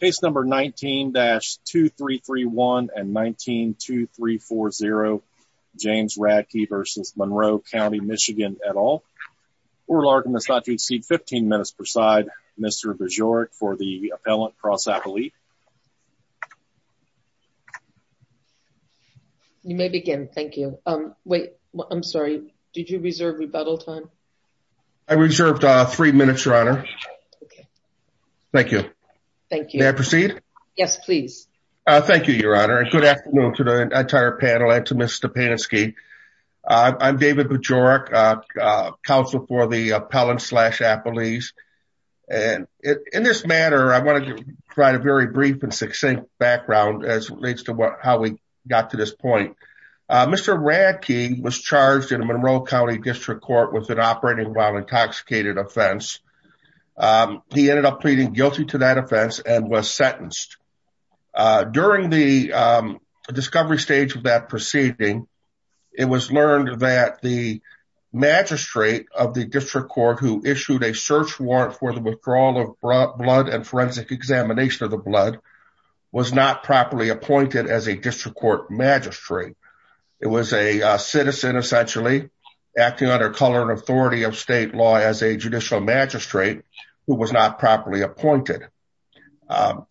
Case number 19-2331 and 19-2340 James Radke v. Monroe County, MI et al. Oral argument is not to exceed 15 minutes per side. Mr. Bajorek for the appellant cross-appellate. You may begin, thank you. Wait, I'm sorry, did you reserve rebuttal time? Thank you. Thank you. May I proceed? Yes, please. Thank you, Your Honor. Good afternoon to the entire panel and to Ms. Stepanski. I'm David Bajorek, counsel for the appellant slash appellees. In this matter, I want to provide a very brief and succinct background as it relates to how we got to this point. Mr. Radke was charged in a Monroe County District Court with an operating while intoxicated offense. He ended up pleading guilty to that offense and was sentenced. During the discovery stage of that proceeding, it was learned that the magistrate of the district court who issued a search warrant for the withdrawal of blood and forensic examination of the blood was not properly appointed as a district court magistrate. It was a citizen, essentially, acting under color and authority of state law as a judicial magistrate who was not properly appointed.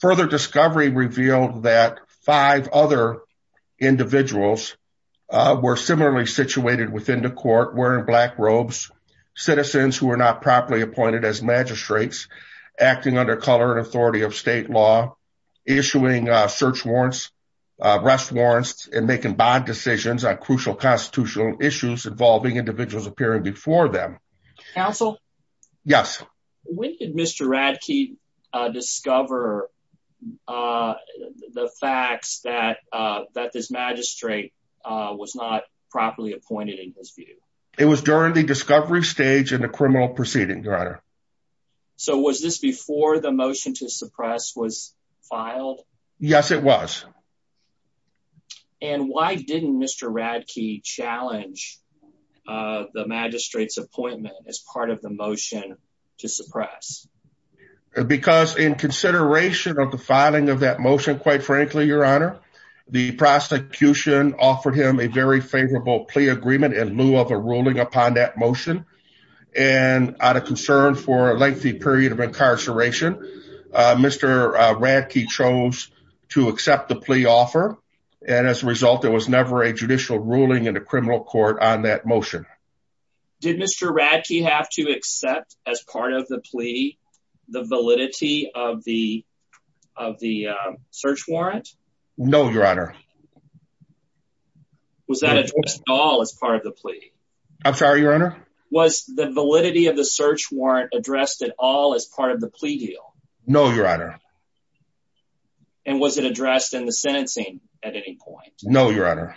Further discovery revealed that five other individuals were similarly situated within the court wearing black robes, citizens who were not properly appointed as magistrates, acting under color and authority of state law, issuing search warrants, arrest warrants, and making bad decisions on crucial constitutional issues involving individuals appearing before them. Counsel? Yes. When did Mr. Radke discover the facts that this magistrate was not properly appointed in his view? It was during the discovery stage in the criminal proceeding, Your Honor. So was this before the motion to suppress was filed? Yes, it was. And why didn't Mr. Radke challenge the magistrate's appointment as part of the motion to suppress? Because in consideration of the filing of that motion, quite frankly, Your Honor, the prosecution offered him a very favorable plea agreement in lieu of a ruling upon that motion. And out of concern for a lengthy period of incarceration, Mr. Radke chose to accept the plea offer. And as a result, there was never a judicial ruling in the criminal court on that motion. Did Mr. Radke have to accept as part of the plea the validity of the search warrant? No, Your Honor. Was that addressed at all as part of the plea? I'm sorry, Your Honor? Was the validity of the search warrant addressed at all as part of the plea deal? No, Your Honor. And was it addressed in the sentencing at any point? No, Your Honor.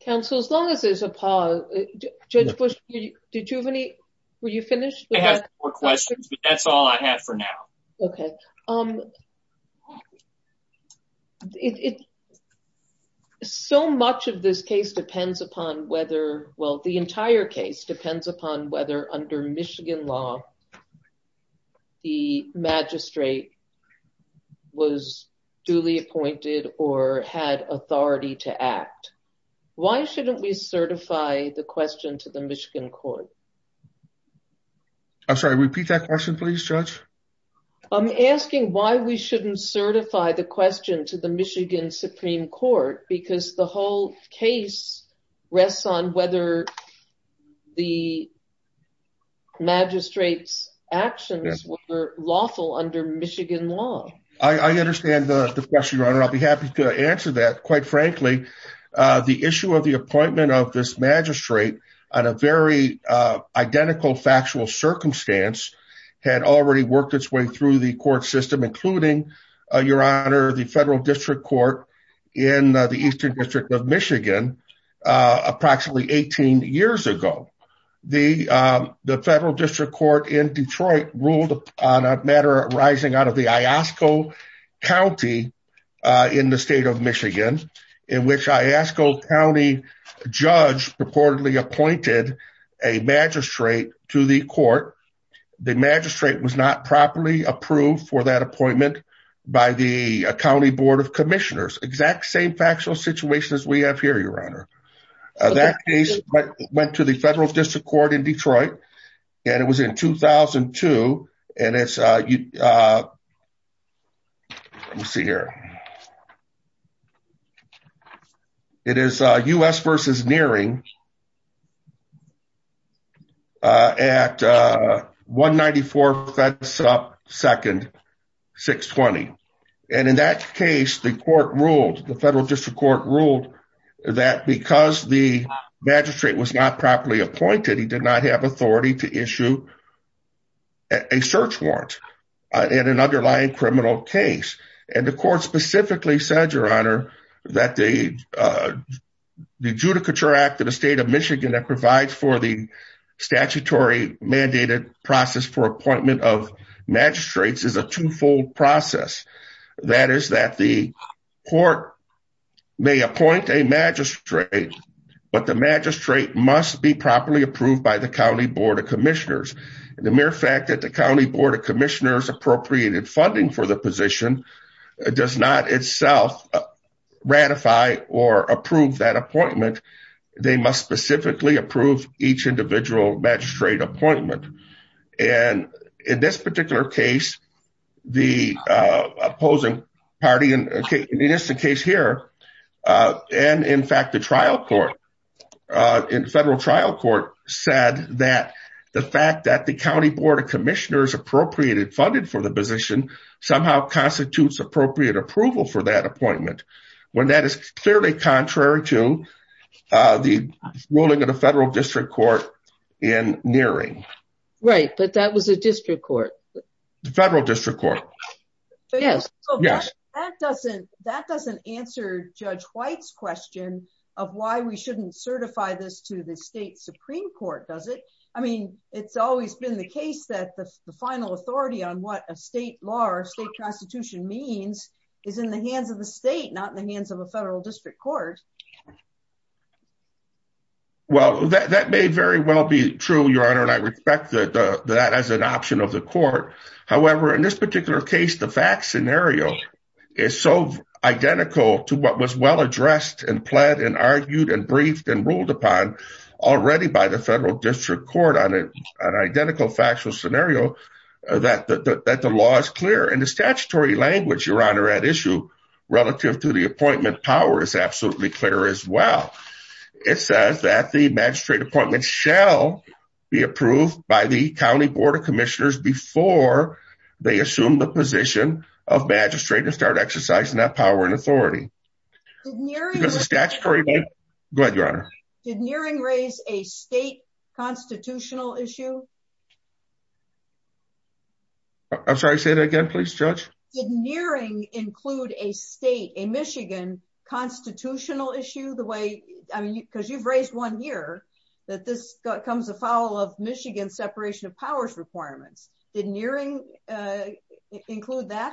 Counsel, as long as there's a pause, Judge Bush, were you finished? I have more questions, but that's all I have for now. OK. So much of this case depends upon whether, well, the entire case depends upon whether under Michigan law, the magistrate was duly appointed or had authority to act. Why shouldn't we certify the question to the Michigan court? I'm sorry, repeat that question, please, Judge. I'm asking why we shouldn't certify the question to the Michigan Supreme Court, because the whole case rests on whether the magistrate's actions were lawful under Michigan law. I understand the question, Your Honor. I'll be happy to answer that. Quite frankly, the issue of the appointment of this magistrate on a very identical factual circumstance had already worked its way through the court system, including, Your Honor, the federal district court in the Eastern District of Michigan approximately 18 years ago. The federal district court in Detroit ruled on a matter arising out of the Iosco County in the state of Michigan, in which Iosco County judge purportedly appointed a magistrate to the court. The magistrate was not properly approved for that appointment by the county board of commissioners. Exact same factual situation as we have here, Your Honor. That case went to the federal district court in Detroit, and it was in 2002. Let me see here. It is U.S. v. Neering at 194 Fedsup 2nd, 620. And in that case, the court ruled, the federal district court ruled that because the magistrate was not properly appointed, that he did not have authority to issue a search warrant in an underlying criminal case. And the court specifically said, Your Honor, that the Judicature Act of the state of Michigan that provides for the statutory mandated process for appointment of magistrates is a twofold process. That is that the court may appoint a magistrate, but the magistrate must be properly approved by the county board of commissioners. The mere fact that the county board of commissioners appropriated funding for the position does not itself ratify or approve that appointment. They must specifically approve each individual magistrate appointment. And in this particular case, the opposing party, and it is the case here, and in fact, the trial court in federal trial court said that the fact that the county board of commissioners appropriated funded for the position somehow constitutes appropriate approval for that appointment. When that is clearly contrary to the ruling of the federal district court in Neering. Right, but that was a district court. The federal district court. Yes. Yes. That doesn't answer Judge White's question of why we shouldn't certify this to the state Supreme Court, does it? I mean, it's always been the case that the final authority on what a state law or state constitution means is in the hands of the state, not in the hands of a federal district court. Well, that may very well be true, Your Honor, and I respect that as an option of the court. However, in this particular case, the fact scenario is so identical to what was well addressed and pled and argued and briefed and ruled upon already by the federal district court on an identical factual scenario that the law is clear and the statutory language, Your Honor, at issue relative to the appointment power is absolutely clear as well. It says that the magistrate appointment shall be approved by the county board of commissioners before they assume the position of magistrate and start exercising that power and authority. Statutory. Go ahead, Your Honor. Did Nearing raise a state constitutional issue? I'm sorry, say that again, please, Judge. Did Nearing include a state in Michigan constitutional issue the way I mean, because you've raised one year that this comes a foul of Michigan separation of powers requirements. Did Nearing include that?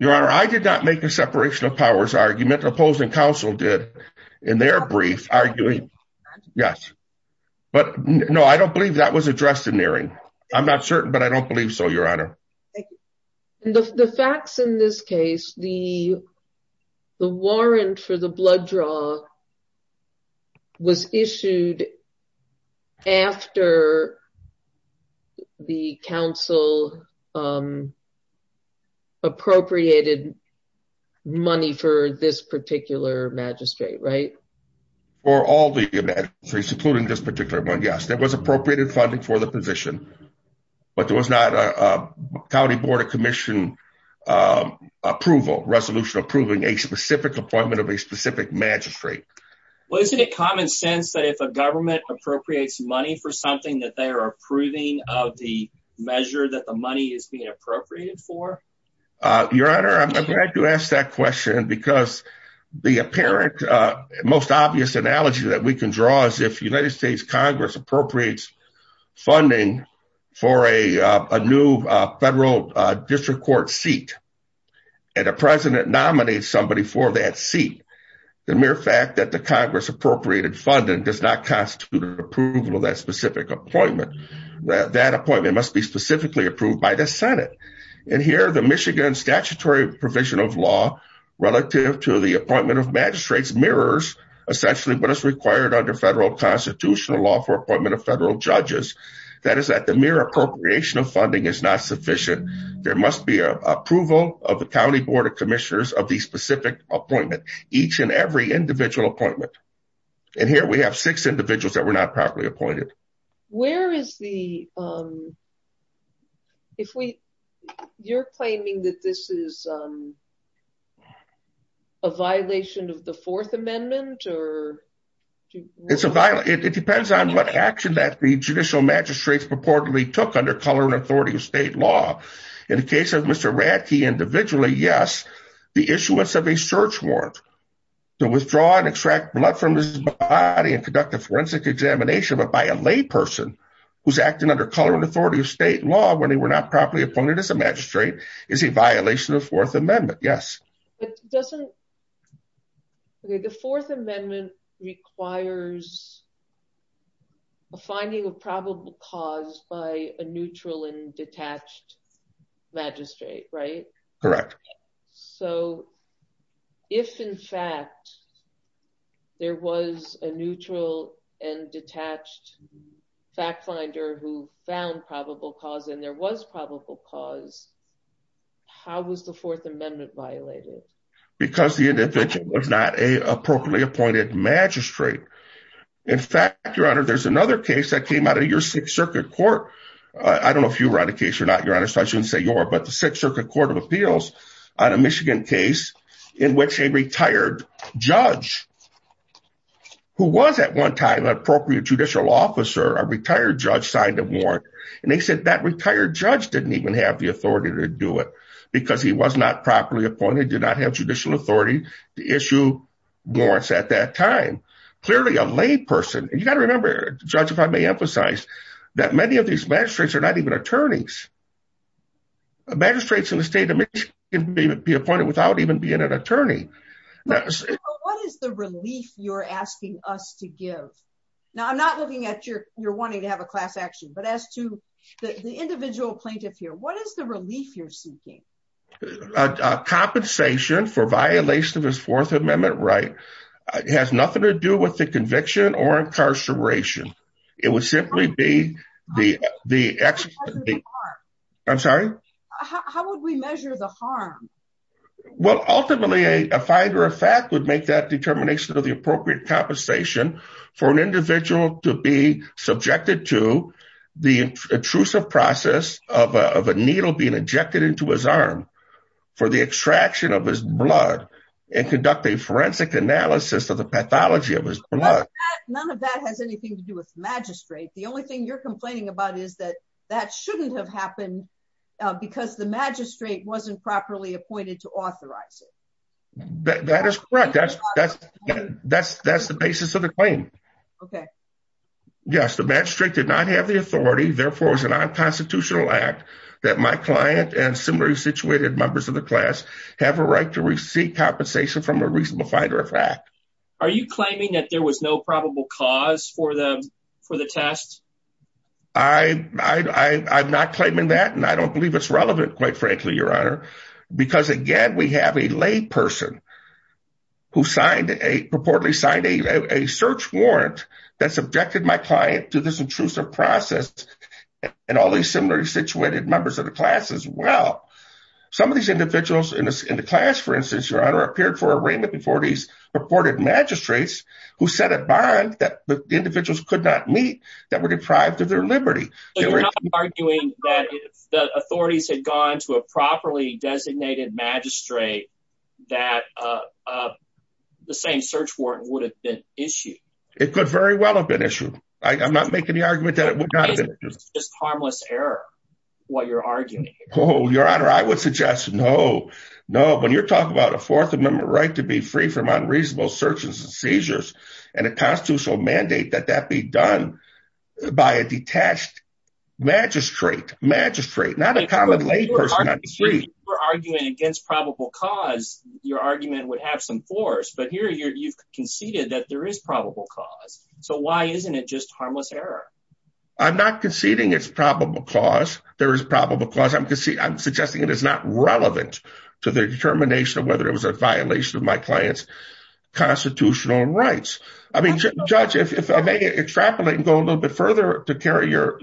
Your Honor, I did not make a separation of powers argument opposing counsel did in their brief arguing. Yes. But no, I don't believe that was addressed in Nearing. I'm not certain, but I don't believe so. Your Honor. The facts in this case, the warrant for the blood draw was issued after the council appropriated money for this particular magistrate, right? For all the magistrates, including this particular one. Yes, there was appropriated funding for the position, but there was not a county board of commission approval resolution approving a specific appointment of a specific magistrate. Well, isn't it common sense that if a government appropriates money for something that they are approving of the measure that the money is being appropriated for? Your Honor, I'm glad you asked that question because the apparent most obvious analogy that we can draw is if United States Congress appropriates funding for a new federal district court seat. And a president nominates somebody for that seat. The mere fact that the Congress appropriated funding does not constitute an approval of that specific appointment. That appointment must be specifically approved by the Senate. And here the Michigan statutory provision of law relative to the appointment of magistrates mirrors essentially what is required under federal constitutional law for appointment of federal judges. That is that the mere appropriation of funding is not sufficient. There must be approval of the county board of commissioners of the specific appointment, each and every individual appointment. And here we have six individuals that were not properly appointed. Where is the. If we you're claiming that this is a violation of the Fourth Amendment or. It's a violent it depends on what action that the judicial magistrates purportedly took under color and authority of state law. In the case of Mr. Radke individually, yes. The issuance of a search warrant to withdraw and extract blood from his body and conduct a forensic examination by a lay person who's acting under color and authority of state law when they were not properly appointed as a magistrate is a violation of Fourth Amendment. Yes, it doesn't. The Fourth Amendment requires a finding of probable cause by a neutral and detached magistrate right. Correct. So, if in fact, there was a neutral and detached fact finder who found probable cause and there was probable cause. How was the Fourth Amendment violated because the individual was not a appropriately appointed magistrate. In fact, your honor, there's another case that came out of your Sixth Circuit Court. I don't know if you run a case or not, your honor, so I shouldn't say your but the Sixth Circuit Court of Appeals on a Michigan case in which a retired judge. Who was at one time an appropriate judicial officer, a retired judge signed a warrant, and they said that retired judge didn't even have the authority to do it because he was not properly appointed did not have judicial authority to issue warrants at that time. Clearly a lay person, you got to remember, judge if I may emphasize that many of these magistrates are not even attorneys magistrates in the state of Michigan may be appointed without even being an attorney. What is the relief you're asking us to give. Now I'm not looking at your, you're wanting to have a class action but as to the individual plaintiff here what is the relief you're seeking compensation for violation of his Fourth Amendment right has nothing to do with the conviction or incarceration. It was simply be the, the, I'm sorry, how would we measure the harm. Well, ultimately, a finder of fact would make that determination of the appropriate compensation for an individual to be subjected to the intrusive process of a needle being injected into his arm for the extraction of his blood and conduct a forensic analysis of the pathology of his blood. None of that has anything to do with magistrate The only thing you're complaining about is that that shouldn't have happened because the magistrate wasn't properly appointed to authorize it. That is correct. That's, that's, that's, that's the basis of the claim. Okay. Yes, the magistrate did not have the authority therefore is an unconstitutional act that my client and similarly situated members of the class have a right to receive compensation from a reasonable finder of fact, are you claiming that there was no probable cause for the for the test. I, I'm not claiming that and I don't believe it's relevant, quite frankly, Your Honor, because again we have a lay person who signed a purportedly signed a search warrant that subjected my client to this intrusive process. And all these similarly situated members of the class as well. Some of these individuals in the class, for instance, Your Honor, appeared for arraignment before these purported magistrates who set a bond that the individuals could not meet that were deprived of their liberty. Arguing that the authorities had gone to a properly designated magistrate that the same search warrant would have been issued. It could very well have been issued. I'm not making the argument that it would not have been just harmless error. Oh, Your Honor, I would suggest, no, no, when you're talking about a fourth amendment right to be free from unreasonable searches and seizures and a constitutional mandate that that be done by a detached magistrate magistrate not a common lay person. We're arguing against probable cause your argument would have some force. But here you've conceded that there is probable cause. So why isn't it just harmless error? I'm not conceding it's probable cause there is probable cause I'm to see I'm suggesting it is not relevant to the determination of whether it was a violation of my clients constitutional rights. I mean, judge, if I may extrapolate and go a little bit further to carry your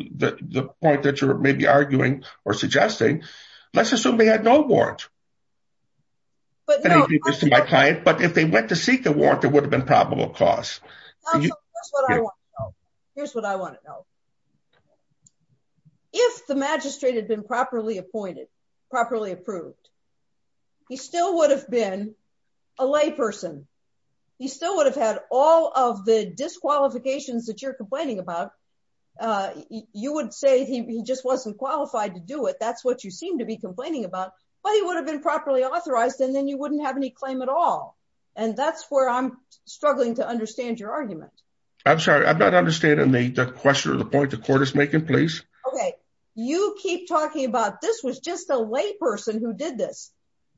point that you're maybe arguing or suggesting. Let's assume they had no warrant. But if they went to seek a warrant that would have been probable cause. Here's what I want to know. If the magistrate had been properly appointed properly approved. He still would have been a lay person. He still would have had all of the disqualifications that you're complaining about. You would say he just wasn't qualified to do it. That's what you seem to be complaining about, but he would have been properly authorized and then you wouldn't have any claim at all. And that's where I'm struggling to understand your argument. I'm sorry. I'm not understanding the question or the point the court is making place. Okay, you keep talking about this was just a lay person who did this.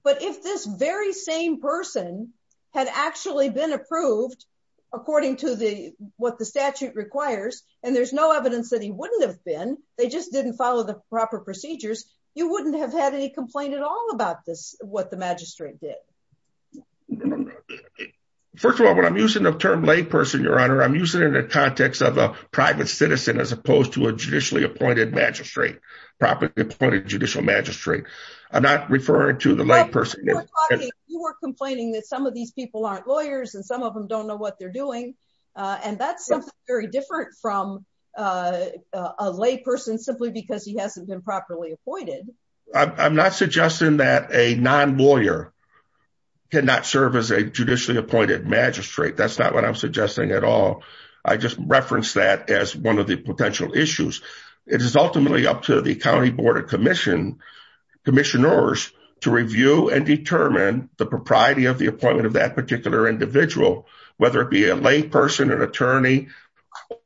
But if this very same person had actually been approved according to the what the statute requires and there's no evidence that he wouldn't have been they just didn't follow the proper procedures. You wouldn't have had any complaint at all about this what the magistrate did. First of all, what I'm using the term lay person, Your Honor. I'm using it in the context of a private citizen, as opposed to a judicially appointed magistrate properly appointed judicial magistrate. I'm not referring to the lay person. You were complaining that some of these people aren't lawyers and some of them don't know what they're doing. And that's something very different from a lay person, simply because he hasn't been properly appointed. I'm not suggesting that a non lawyer cannot serve as a judicially appointed magistrate. That's not what I'm suggesting at all. I just referenced that as one of the potential issues. It is ultimately up to the county board of commission commissioners to review and determine the propriety of the appointment of that particular individual, whether it be a lay person, an attorney,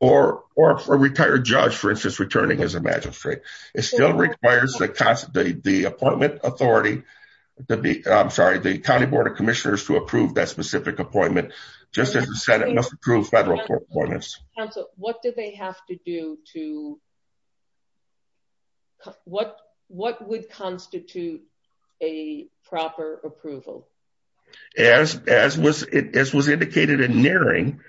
or, or a retired judge, for instance, returning as a magistrate. It still requires that the appointment authority to be, I'm sorry, the county board of commissioners to approve that specific appointment, just as the Senate must approve federal court appointments. Counsel, what did they have to do to what, what would constitute a proper approval? As, as was it, as was indicated in nearing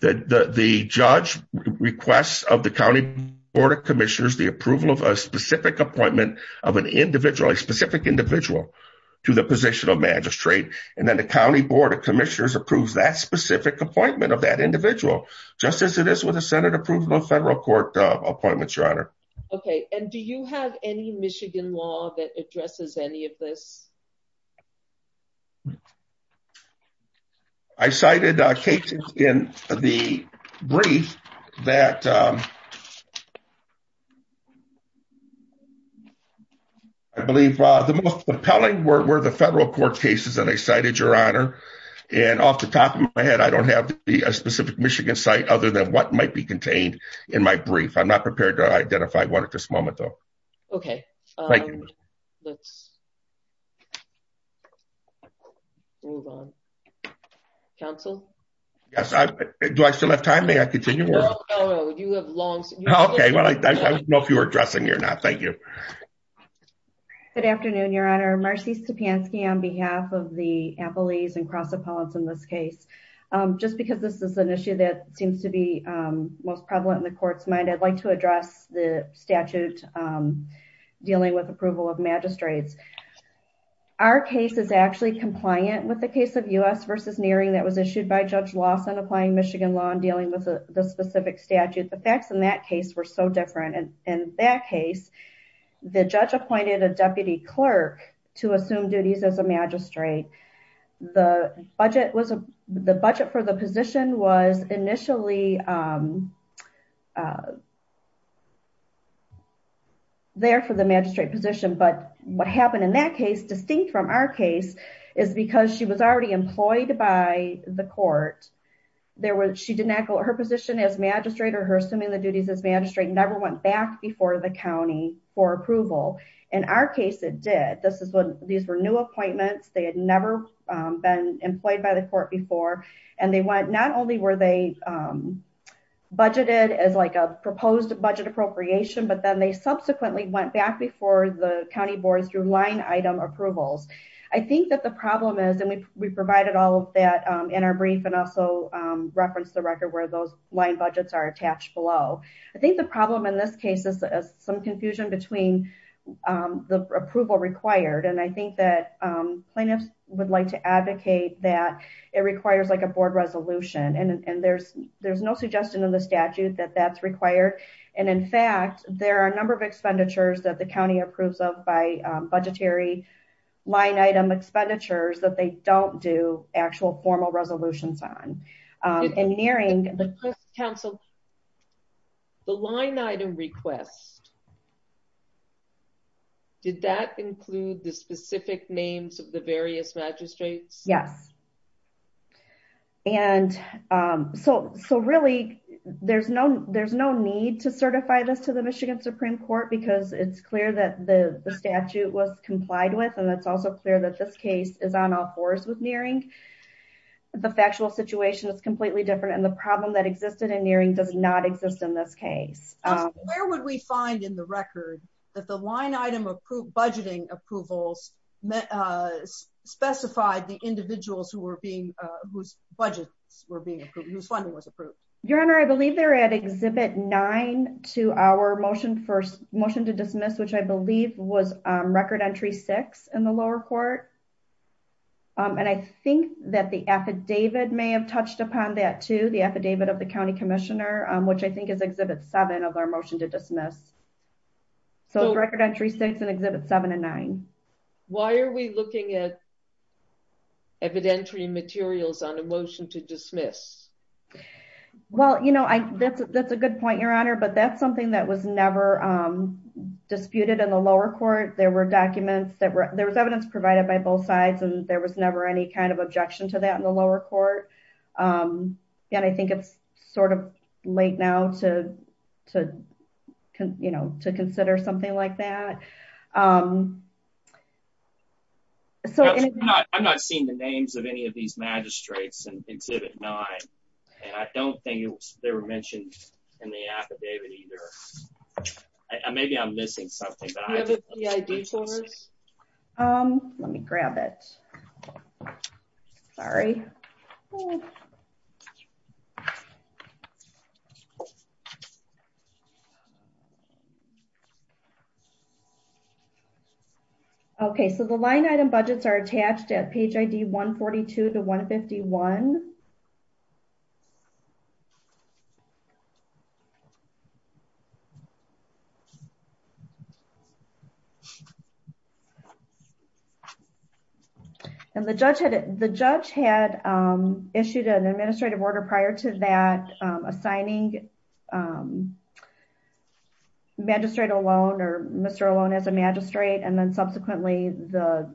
the, the, the judge requests of the county board of commissioners, the approval of a specific appointment of an individual, a specific individual to the position of magistrate. And then the county board of commissioners approves that specific appointment of that individual, just as it is with a Senate approval of federal court appointments, your honor. Okay. And do you have any Michigan law that addresses any of this? I cited a case in the brief that I believe the most compelling were the federal court cases that I cited your honor. And off the top of my head, I don't have to be a specific Michigan site other than what might be contained in my brief. I'm not prepared to identify one at this moment, though. Okay. Let's move on. Counsel? Yes. Do I still have time? May I continue? No, no, no. You have long. Okay. Well, I don't know if you were addressing it or not. Thank you. Good afternoon, your honor. Marcy Stepanski on behalf of the appellees and cross appellants in this case. Just because this is an issue that seems to be most prevalent in the court's mind, I'd like to address the statute dealing with approval of magistrates. Our case is actually compliant with the case of US versus nearing that was issued by Judge Lawson applying Michigan law and dealing with the specific statute. The facts in that case were so different. And in that case, the judge appointed a deputy clerk to assume duties as a magistrate. The budget for the position was initially there for the magistrate position. But what happened in that case, distinct from our case, is because she was already employed by the court. She did not go to her position as magistrate or her assuming the duties as magistrate, never went back before the county for approval. In our case, it did. These were new appointments. They had never been employed by the court before. And not only were they budgeted as like a proposed budget appropriation, but then they subsequently went back before the county boards through line item approvals. I think that the problem is, and we provided all of that in our brief and also referenced the record where those line budgets are attached below. I think the problem in this case is some confusion between the approval required. And I think that plaintiffs would like to advocate that it requires like a board resolution. And there's no suggestion in the statute that that's required. And in fact, there are a number of expenditures that the county approves of by budgetary line item expenditures that they don't do actual formal resolutions on. The line item request, did that include the specific names of the various magistrates? Yes. And so really, there's no need to certify this to the Michigan Supreme Court because it's clear that the statute was complied with. And it's also clear that this case is on all fours with Neering. The factual situation is completely different. And the problem that existed in Neering does not exist in this case. Where would we find in the record that the line item budgeting approvals specified the individuals whose budgets were being approved, whose funding was approved? Your Honor, I believe they're at Exhibit 9 to our motion to dismiss, which I believe was Record Entry 6 in the lower court. And I think that the affidavit may have touched upon that too, the affidavit of the county commissioner, which I think is Exhibit 7 of our motion to dismiss. So Record Entry 6 and Exhibit 7 and 9. Why are we looking at evidentiary materials on a motion to dismiss? Well, you know, that's a good point, Your Honor. But that's something that was never disputed in the lower court. There was evidence provided by both sides, and there was never any kind of objection to that in the lower court. And I think it's sort of late now to consider something like that. I'm not seeing the names of any of these magistrates in Exhibit 9, and I don't think they were mentioned in the affidavit either. Maybe I'm missing something. Do you have the ID for us? Let me grab it. Sorry. Okay, so the line item budgets are attached at page ID 142 to 151. And the judge had issued an administrative order prior to that, assigning magistrate alone or Mr. Alone as a magistrate. And then subsequently, the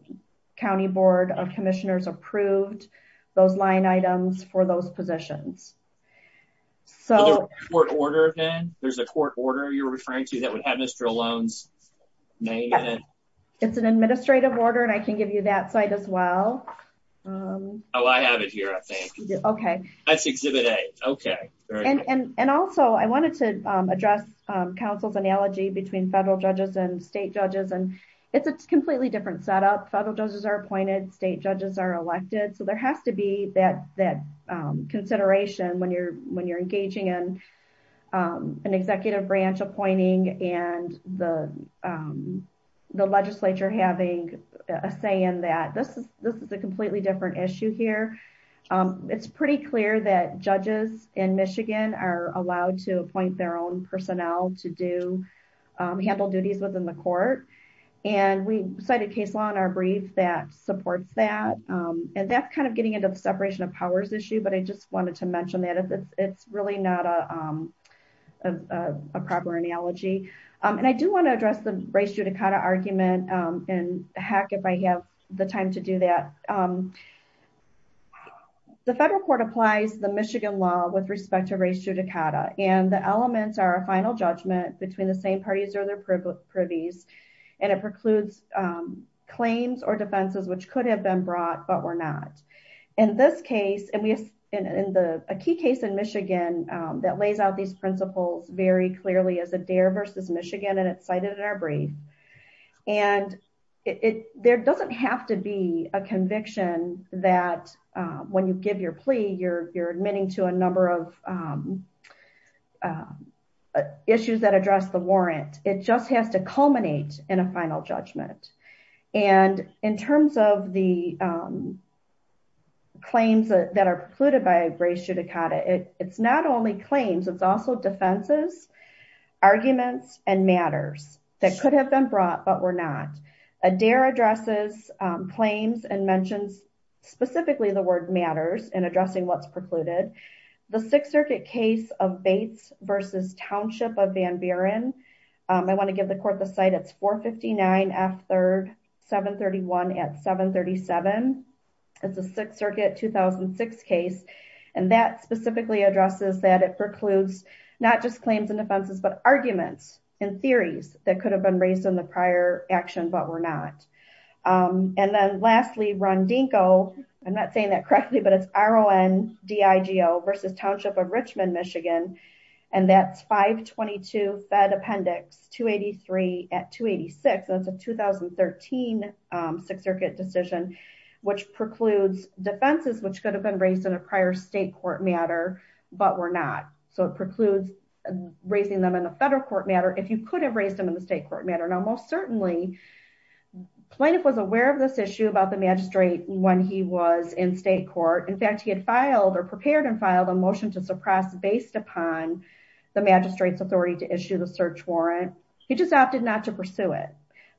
County Board of Commissioners approved those line items for those positions. So there's a court order you're referring to that would have Mr. Alone's name in it? It's an administrative order, and I can give you that site as well. Oh, I have it here, I think. That's Exhibit A. Okay. And also, I wanted to address Council's analogy between federal judges and state judges, and it's a completely different setup. Federal judges are appointed, state judges are elected. So there has to be that consideration when you're engaging in an executive branch appointing and the legislature having a say in that. This is a completely different issue here. It's pretty clear that judges in Michigan are allowed to appoint their own personnel to handle duties within the court. And we cited case law in our brief that supports that. And that's kind of getting into the separation of powers issue, but I just wanted to mention that. It's really not a proper analogy. And I do want to address the race judicata argument, and heck, if I have the time to do that. The federal court applies the Michigan law with respect to race judicata, and the elements are a final judgment between the same parties or their privies. And it precludes claims or defenses which could have been brought, but were not. In this case, and a key case in Michigan that lays out these principles very clearly is Adair v. Michigan, and it's cited in our brief. And there doesn't have to be a conviction that when you give your plea, you're admitting to a number of issues that address the warrant. It just has to culminate in a final judgment. And in terms of the claims that are precluded by race judicata, it's not only claims, it's also defenses, arguments, and matters that could have been brought, but were not. Adair addresses claims and mentions specifically the word matters in addressing what's precluded. The Sixth Circuit case of Bates v. Township of Van Buren, I want to give the court the cite, it's 459 F. 3rd, 731 at 737. It's a Sixth Circuit 2006 case, and that specifically addresses that it precludes not just claims and defenses, but arguments and theories that could have been raised in the prior action, but were not. And then lastly, Rondinko, I'm not saying that correctly, but it's R. O. N. D. I. G. O. v. Township of Richmond, Michigan, and that's 522 Fed Appendix 283 at 286. That's a 2013 Sixth Circuit decision, which precludes defenses which could have been raised in a prior state court matter, but were not. So it precludes raising them in a federal court matter if you could have raised them in the state court matter. Now, most certainly, plaintiff was aware of this issue about the magistrate when he was in state court. In fact, he had filed or prepared and filed a motion to suppress based upon the magistrate's authority to issue the search warrant. He just opted not to pursue it.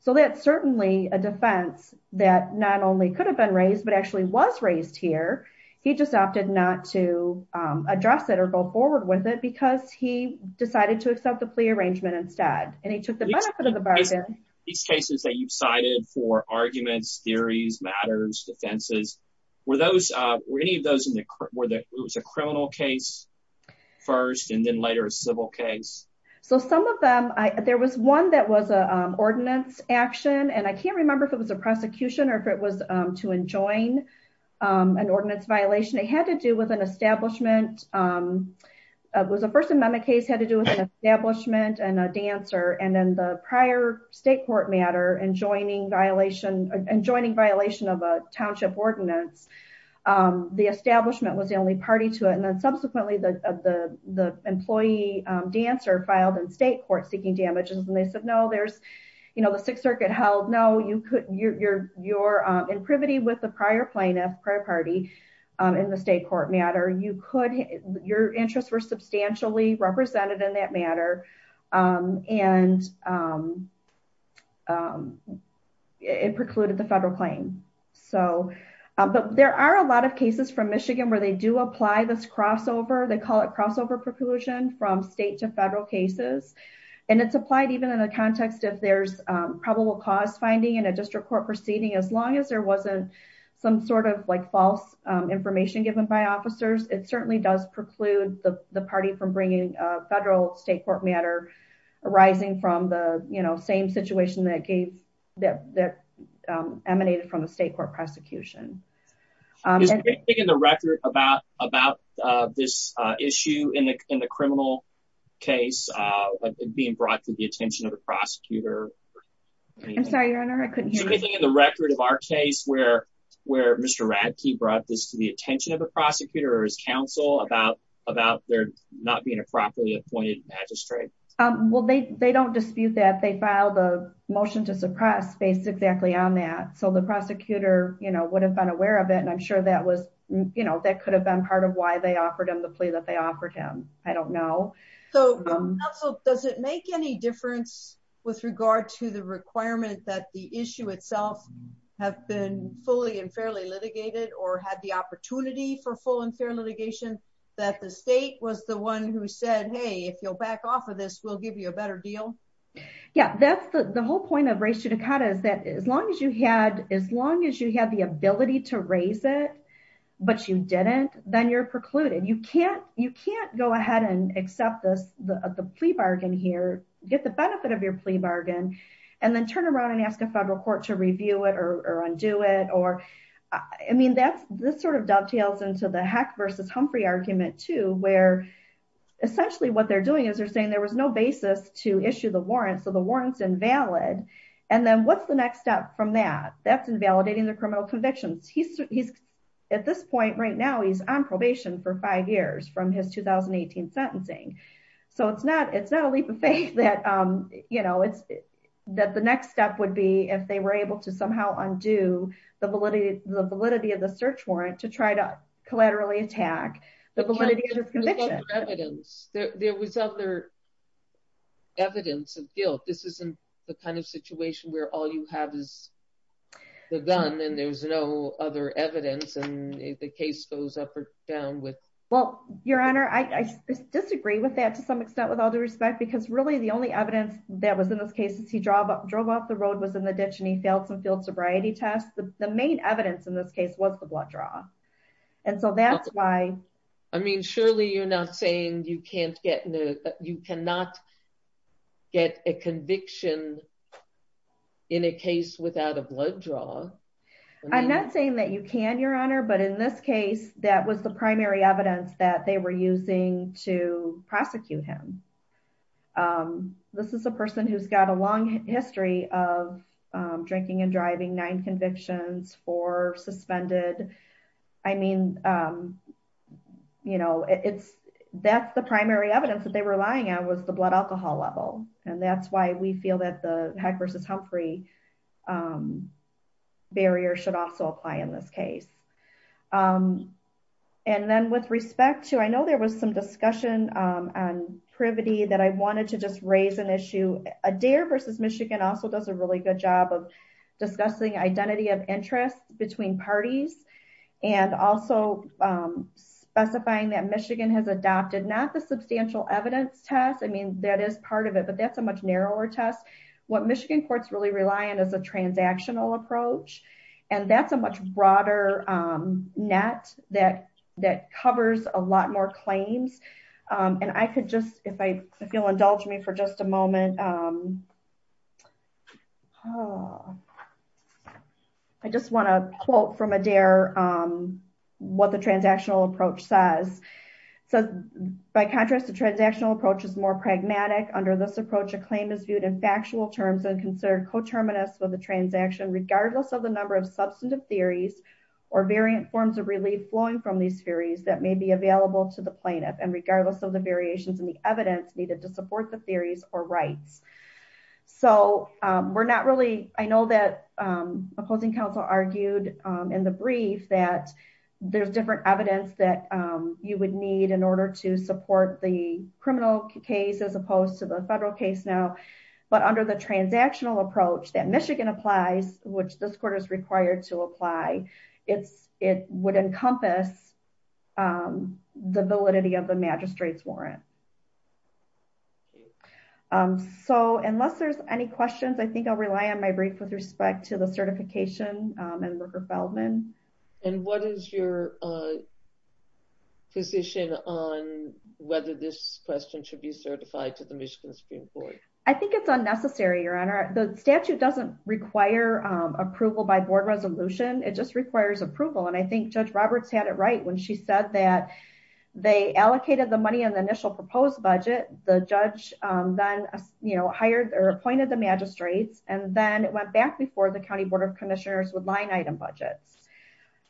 So that's certainly a defense that not only could have been raised, but actually was raised here. He just opted not to address it or go forward with it because he decided to accept the plea arrangement instead. And he took the benefit of the bargain. These cases that you've cited for arguments, theories, matters, defenses, were any of those, it was a criminal case first and then later a civil case? So some of them, there was one that was an ordinance action, and I can't remember if it was a prosecution or if it was to enjoin an ordinance violation. It had to do with an establishment. It was a First Amendment case had to do with an establishment and a dancer. And then the prior state court matter and joining violation of a township ordinance. The establishment was the only party to it. And then subsequently, the employee dancer filed in state court seeking damages. And they said, no, there's the Sixth Circuit held. No, you're in privity with the prior plaintiff, prior party. You're in the state court matter. Your interests were substantially represented in that matter. And it precluded the federal claim. But there are a lot of cases from Michigan where they do apply this crossover. They call it crossover preclusion from state to federal cases. And it's applied even in the context of there's probable cause finding in a district court proceeding. As long as there wasn't some sort of like false information given by officers. It certainly does preclude the party from bringing federal state court matter arising from the same situation that gave that emanated from the state court prosecution. Is there anything in the record about this issue in the criminal case being brought to the attention of a prosecutor? I'm sorry, Your Honor, I couldn't hear you. Is there anything in the record of our case where Mr. Radke brought this to the attention of a prosecutor or his counsel about there not being a properly appointed magistrate? Well, they don't dispute that. They filed a motion to suppress based exactly on that. So the prosecutor, you know, would have been aware of it. And I'm sure that was, you know, that could have been part of why they offered him the plea that they offered him. I don't know. So does it make any difference with regard to the requirement that the issue itself have been fully and fairly litigated or had the opportunity for full and fair litigation? That the state was the one who said, hey, if you'll back off of this, we'll give you a better deal. Yeah, that's the whole point of res judicata is that as long as you had, as long as you had the ability to raise it, but you didn't, then you're precluded. You can't, you can't go ahead and accept this, the plea bargain here, get the benefit of your plea bargain, and then turn around and ask a federal court to review it or undo it. Or, I mean, that's, this sort of dovetails into the Heck versus Humphrey argument too, where essentially what they're doing is they're saying there was no basis to issue the warrant. So the warrant's invalid. And then what's the next step from that? That's invalidating the criminal convictions. He's at this point right now, he's on probation for five years from his 2018 sentencing. So it's not, it's not a leap of faith that, you know, it's that the next step would be if they were able to somehow undo the validity of the search warrant to try to collaterally attack the validity of his conviction. There was other evidence of guilt. This isn't the kind of situation where all you have is the gun and there's no other evidence and the case goes up or down with. Well, Your Honor, I disagree with that to some extent with all due respect, because really the only evidence that was in this case is he drove up, drove off the road was in the ditch and he failed some field sobriety tests. The main evidence in this case was the blood draw. And so that's why. I mean, surely you're not saying you can't get, you cannot get a conviction in a case without a blood draw. I'm not saying that you can, Your Honor, but in this case, that was the primary evidence that they were using to prosecute him. This is a person who's got a long history of drinking and driving, nine convictions, four suspended. I mean, you know, it's that's the primary evidence that they were relying on was the blood alcohol level. And that's why we feel that the Heck versus Humphrey barrier should also apply in this case. And then with respect to, I know there was some discussion on privity that I wanted to just raise an issue. Adair versus Michigan also does a really good job of discussing identity of interest between parties. And also specifying that Michigan has adopted not the substantial evidence test. I mean, that is part of it, but that's a much narrower test. What Michigan courts really rely on is a transactional approach. And that's a much broader net that covers a lot more claims. And I could just, if you'll indulge me for just a moment. I just want to quote from Adair what the transactional approach says. So by contrast, the transactional approach is more pragmatic. Under this approach, a claim is viewed in factual terms and considered coterminous with the transaction, regardless of the number of substantive theories or variant forms of relief flowing from these theories that may be available to the plaintiff and regardless of the variations in the evidence needed to support the theories or rights. So we're not really, I know that opposing counsel argued in the brief that there's different evidence that you would need in order to support the criminal case as opposed to the federal case now. But under the transactional approach that Michigan applies, which this court is required to apply, it would encompass the validity of the magistrate's warrant. So unless there's any questions, I think I'll rely on my brief with respect to the certification and Rooker-Feldman. And what is your position on whether this question should be certified to the Michigan Supreme Court? I think it's unnecessary, Your Honor. The statute doesn't require approval by board resolution. It just requires approval. And I think Judge Roberts had it right when she said that they allocated the money on the initial proposed budget. The judge then hired or appointed the magistrates. And then it went back before the County Board of Commissioners with line item budgets.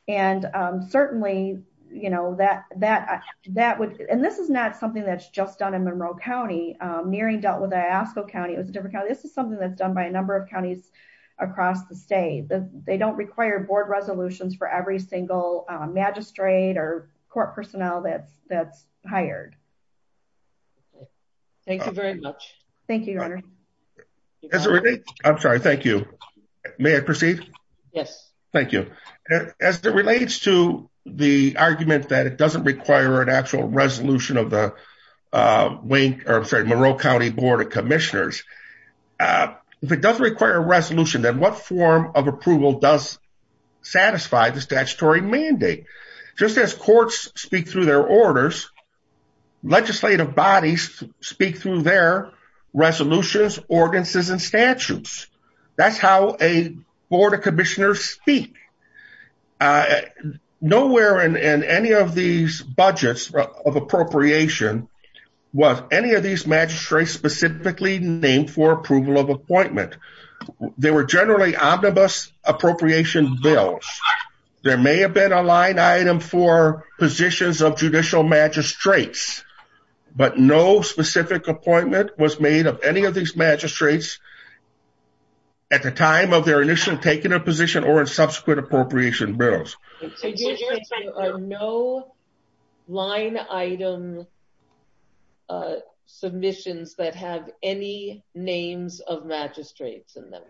And certainly, you know, that would, and this is not something that's just done in Monroe County. Nearing dealt with Iosco County. It was a different county. This is something that's done by a number of counties across the state. They don't require board resolutions for every single magistrate or court personnel that's hired. Thank you very much. Thank you, Your Honor. I'm sorry. Thank you. May I proceed? Yes. Thank you. As it relates to the argument that it doesn't require an actual resolution of the Monroe County Board of Commissioners. If it doesn't require a resolution, then what form of approval does satisfy the statutory mandate? Just as courts speak through their orders, legislative bodies speak through their resolutions, ordinances, and statutes. That's how a Board of Commissioners speak. Nowhere in any of these budgets of appropriation was any of these magistrates specifically named for approval of appointment. They were generally omnibus appropriation bills. There may have been a line item for positions of judicial magistrates, but no specific appointment was made of any of these magistrates at the time of their initial taking a position or in subsequent appropriation bills. There are no line item submissions that have any names of magistrates in them.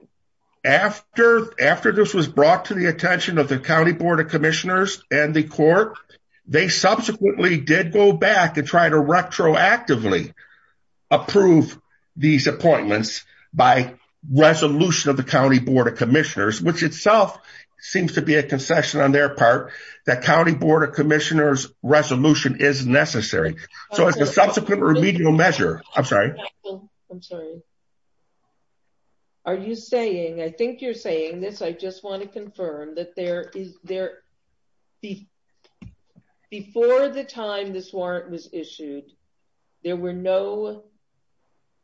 After this was brought to the attention of the County Board of Commissioners and the court, they subsequently did go back and try to retroactively approve these appointments by resolution of the County Board of Commissioners, which itself seems to be a concession on their part that County Board of Commissioners resolution is necessary. So as a subsequent remedial measure, I'm sorry. I'm sorry. Are you saying, I think you're saying this, I just want to confirm that there is there. Before the time this warrant was issued, there were no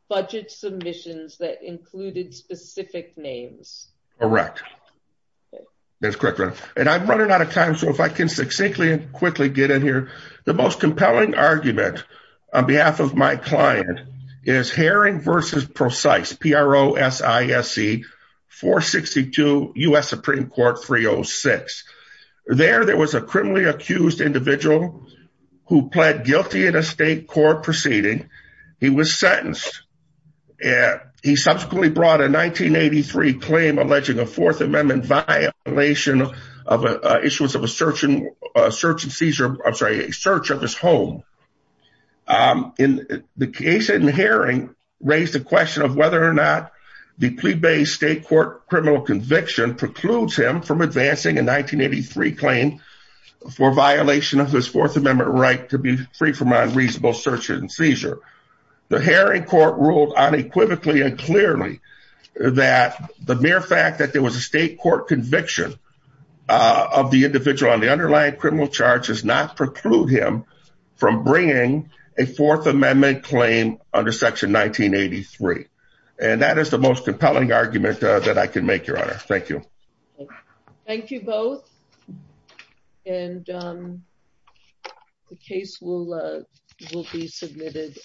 budget submissions that included specific names. Correct. That's correct. And I'm running out of time. So if I can succinctly and quickly get in here. The most compelling argument on behalf of my client is Herring versus precise PROC 462 US Supreme Court 306. There, there was a criminally accused individual who pled guilty in a state court proceeding. He was sentenced. He subsequently brought a 1983 claim alleging a Fourth Amendment violation of a search and seizure, I'm sorry, a search of his home. In the case in Herring raised the question of whether or not the plea based state court criminal conviction precludes him from advancing a 1983 claim for violation of his Fourth Amendment right to be free from unreasonable search and seizure. The Herring court ruled unequivocally and clearly that the mere fact that there was a state court conviction of the individual on the underlying criminal charges not preclude him from bringing a Fourth Amendment claim under Section 1983. And that is the most compelling argument that I can make your honor. Thank you. Thank you both. And the case will will be submitted.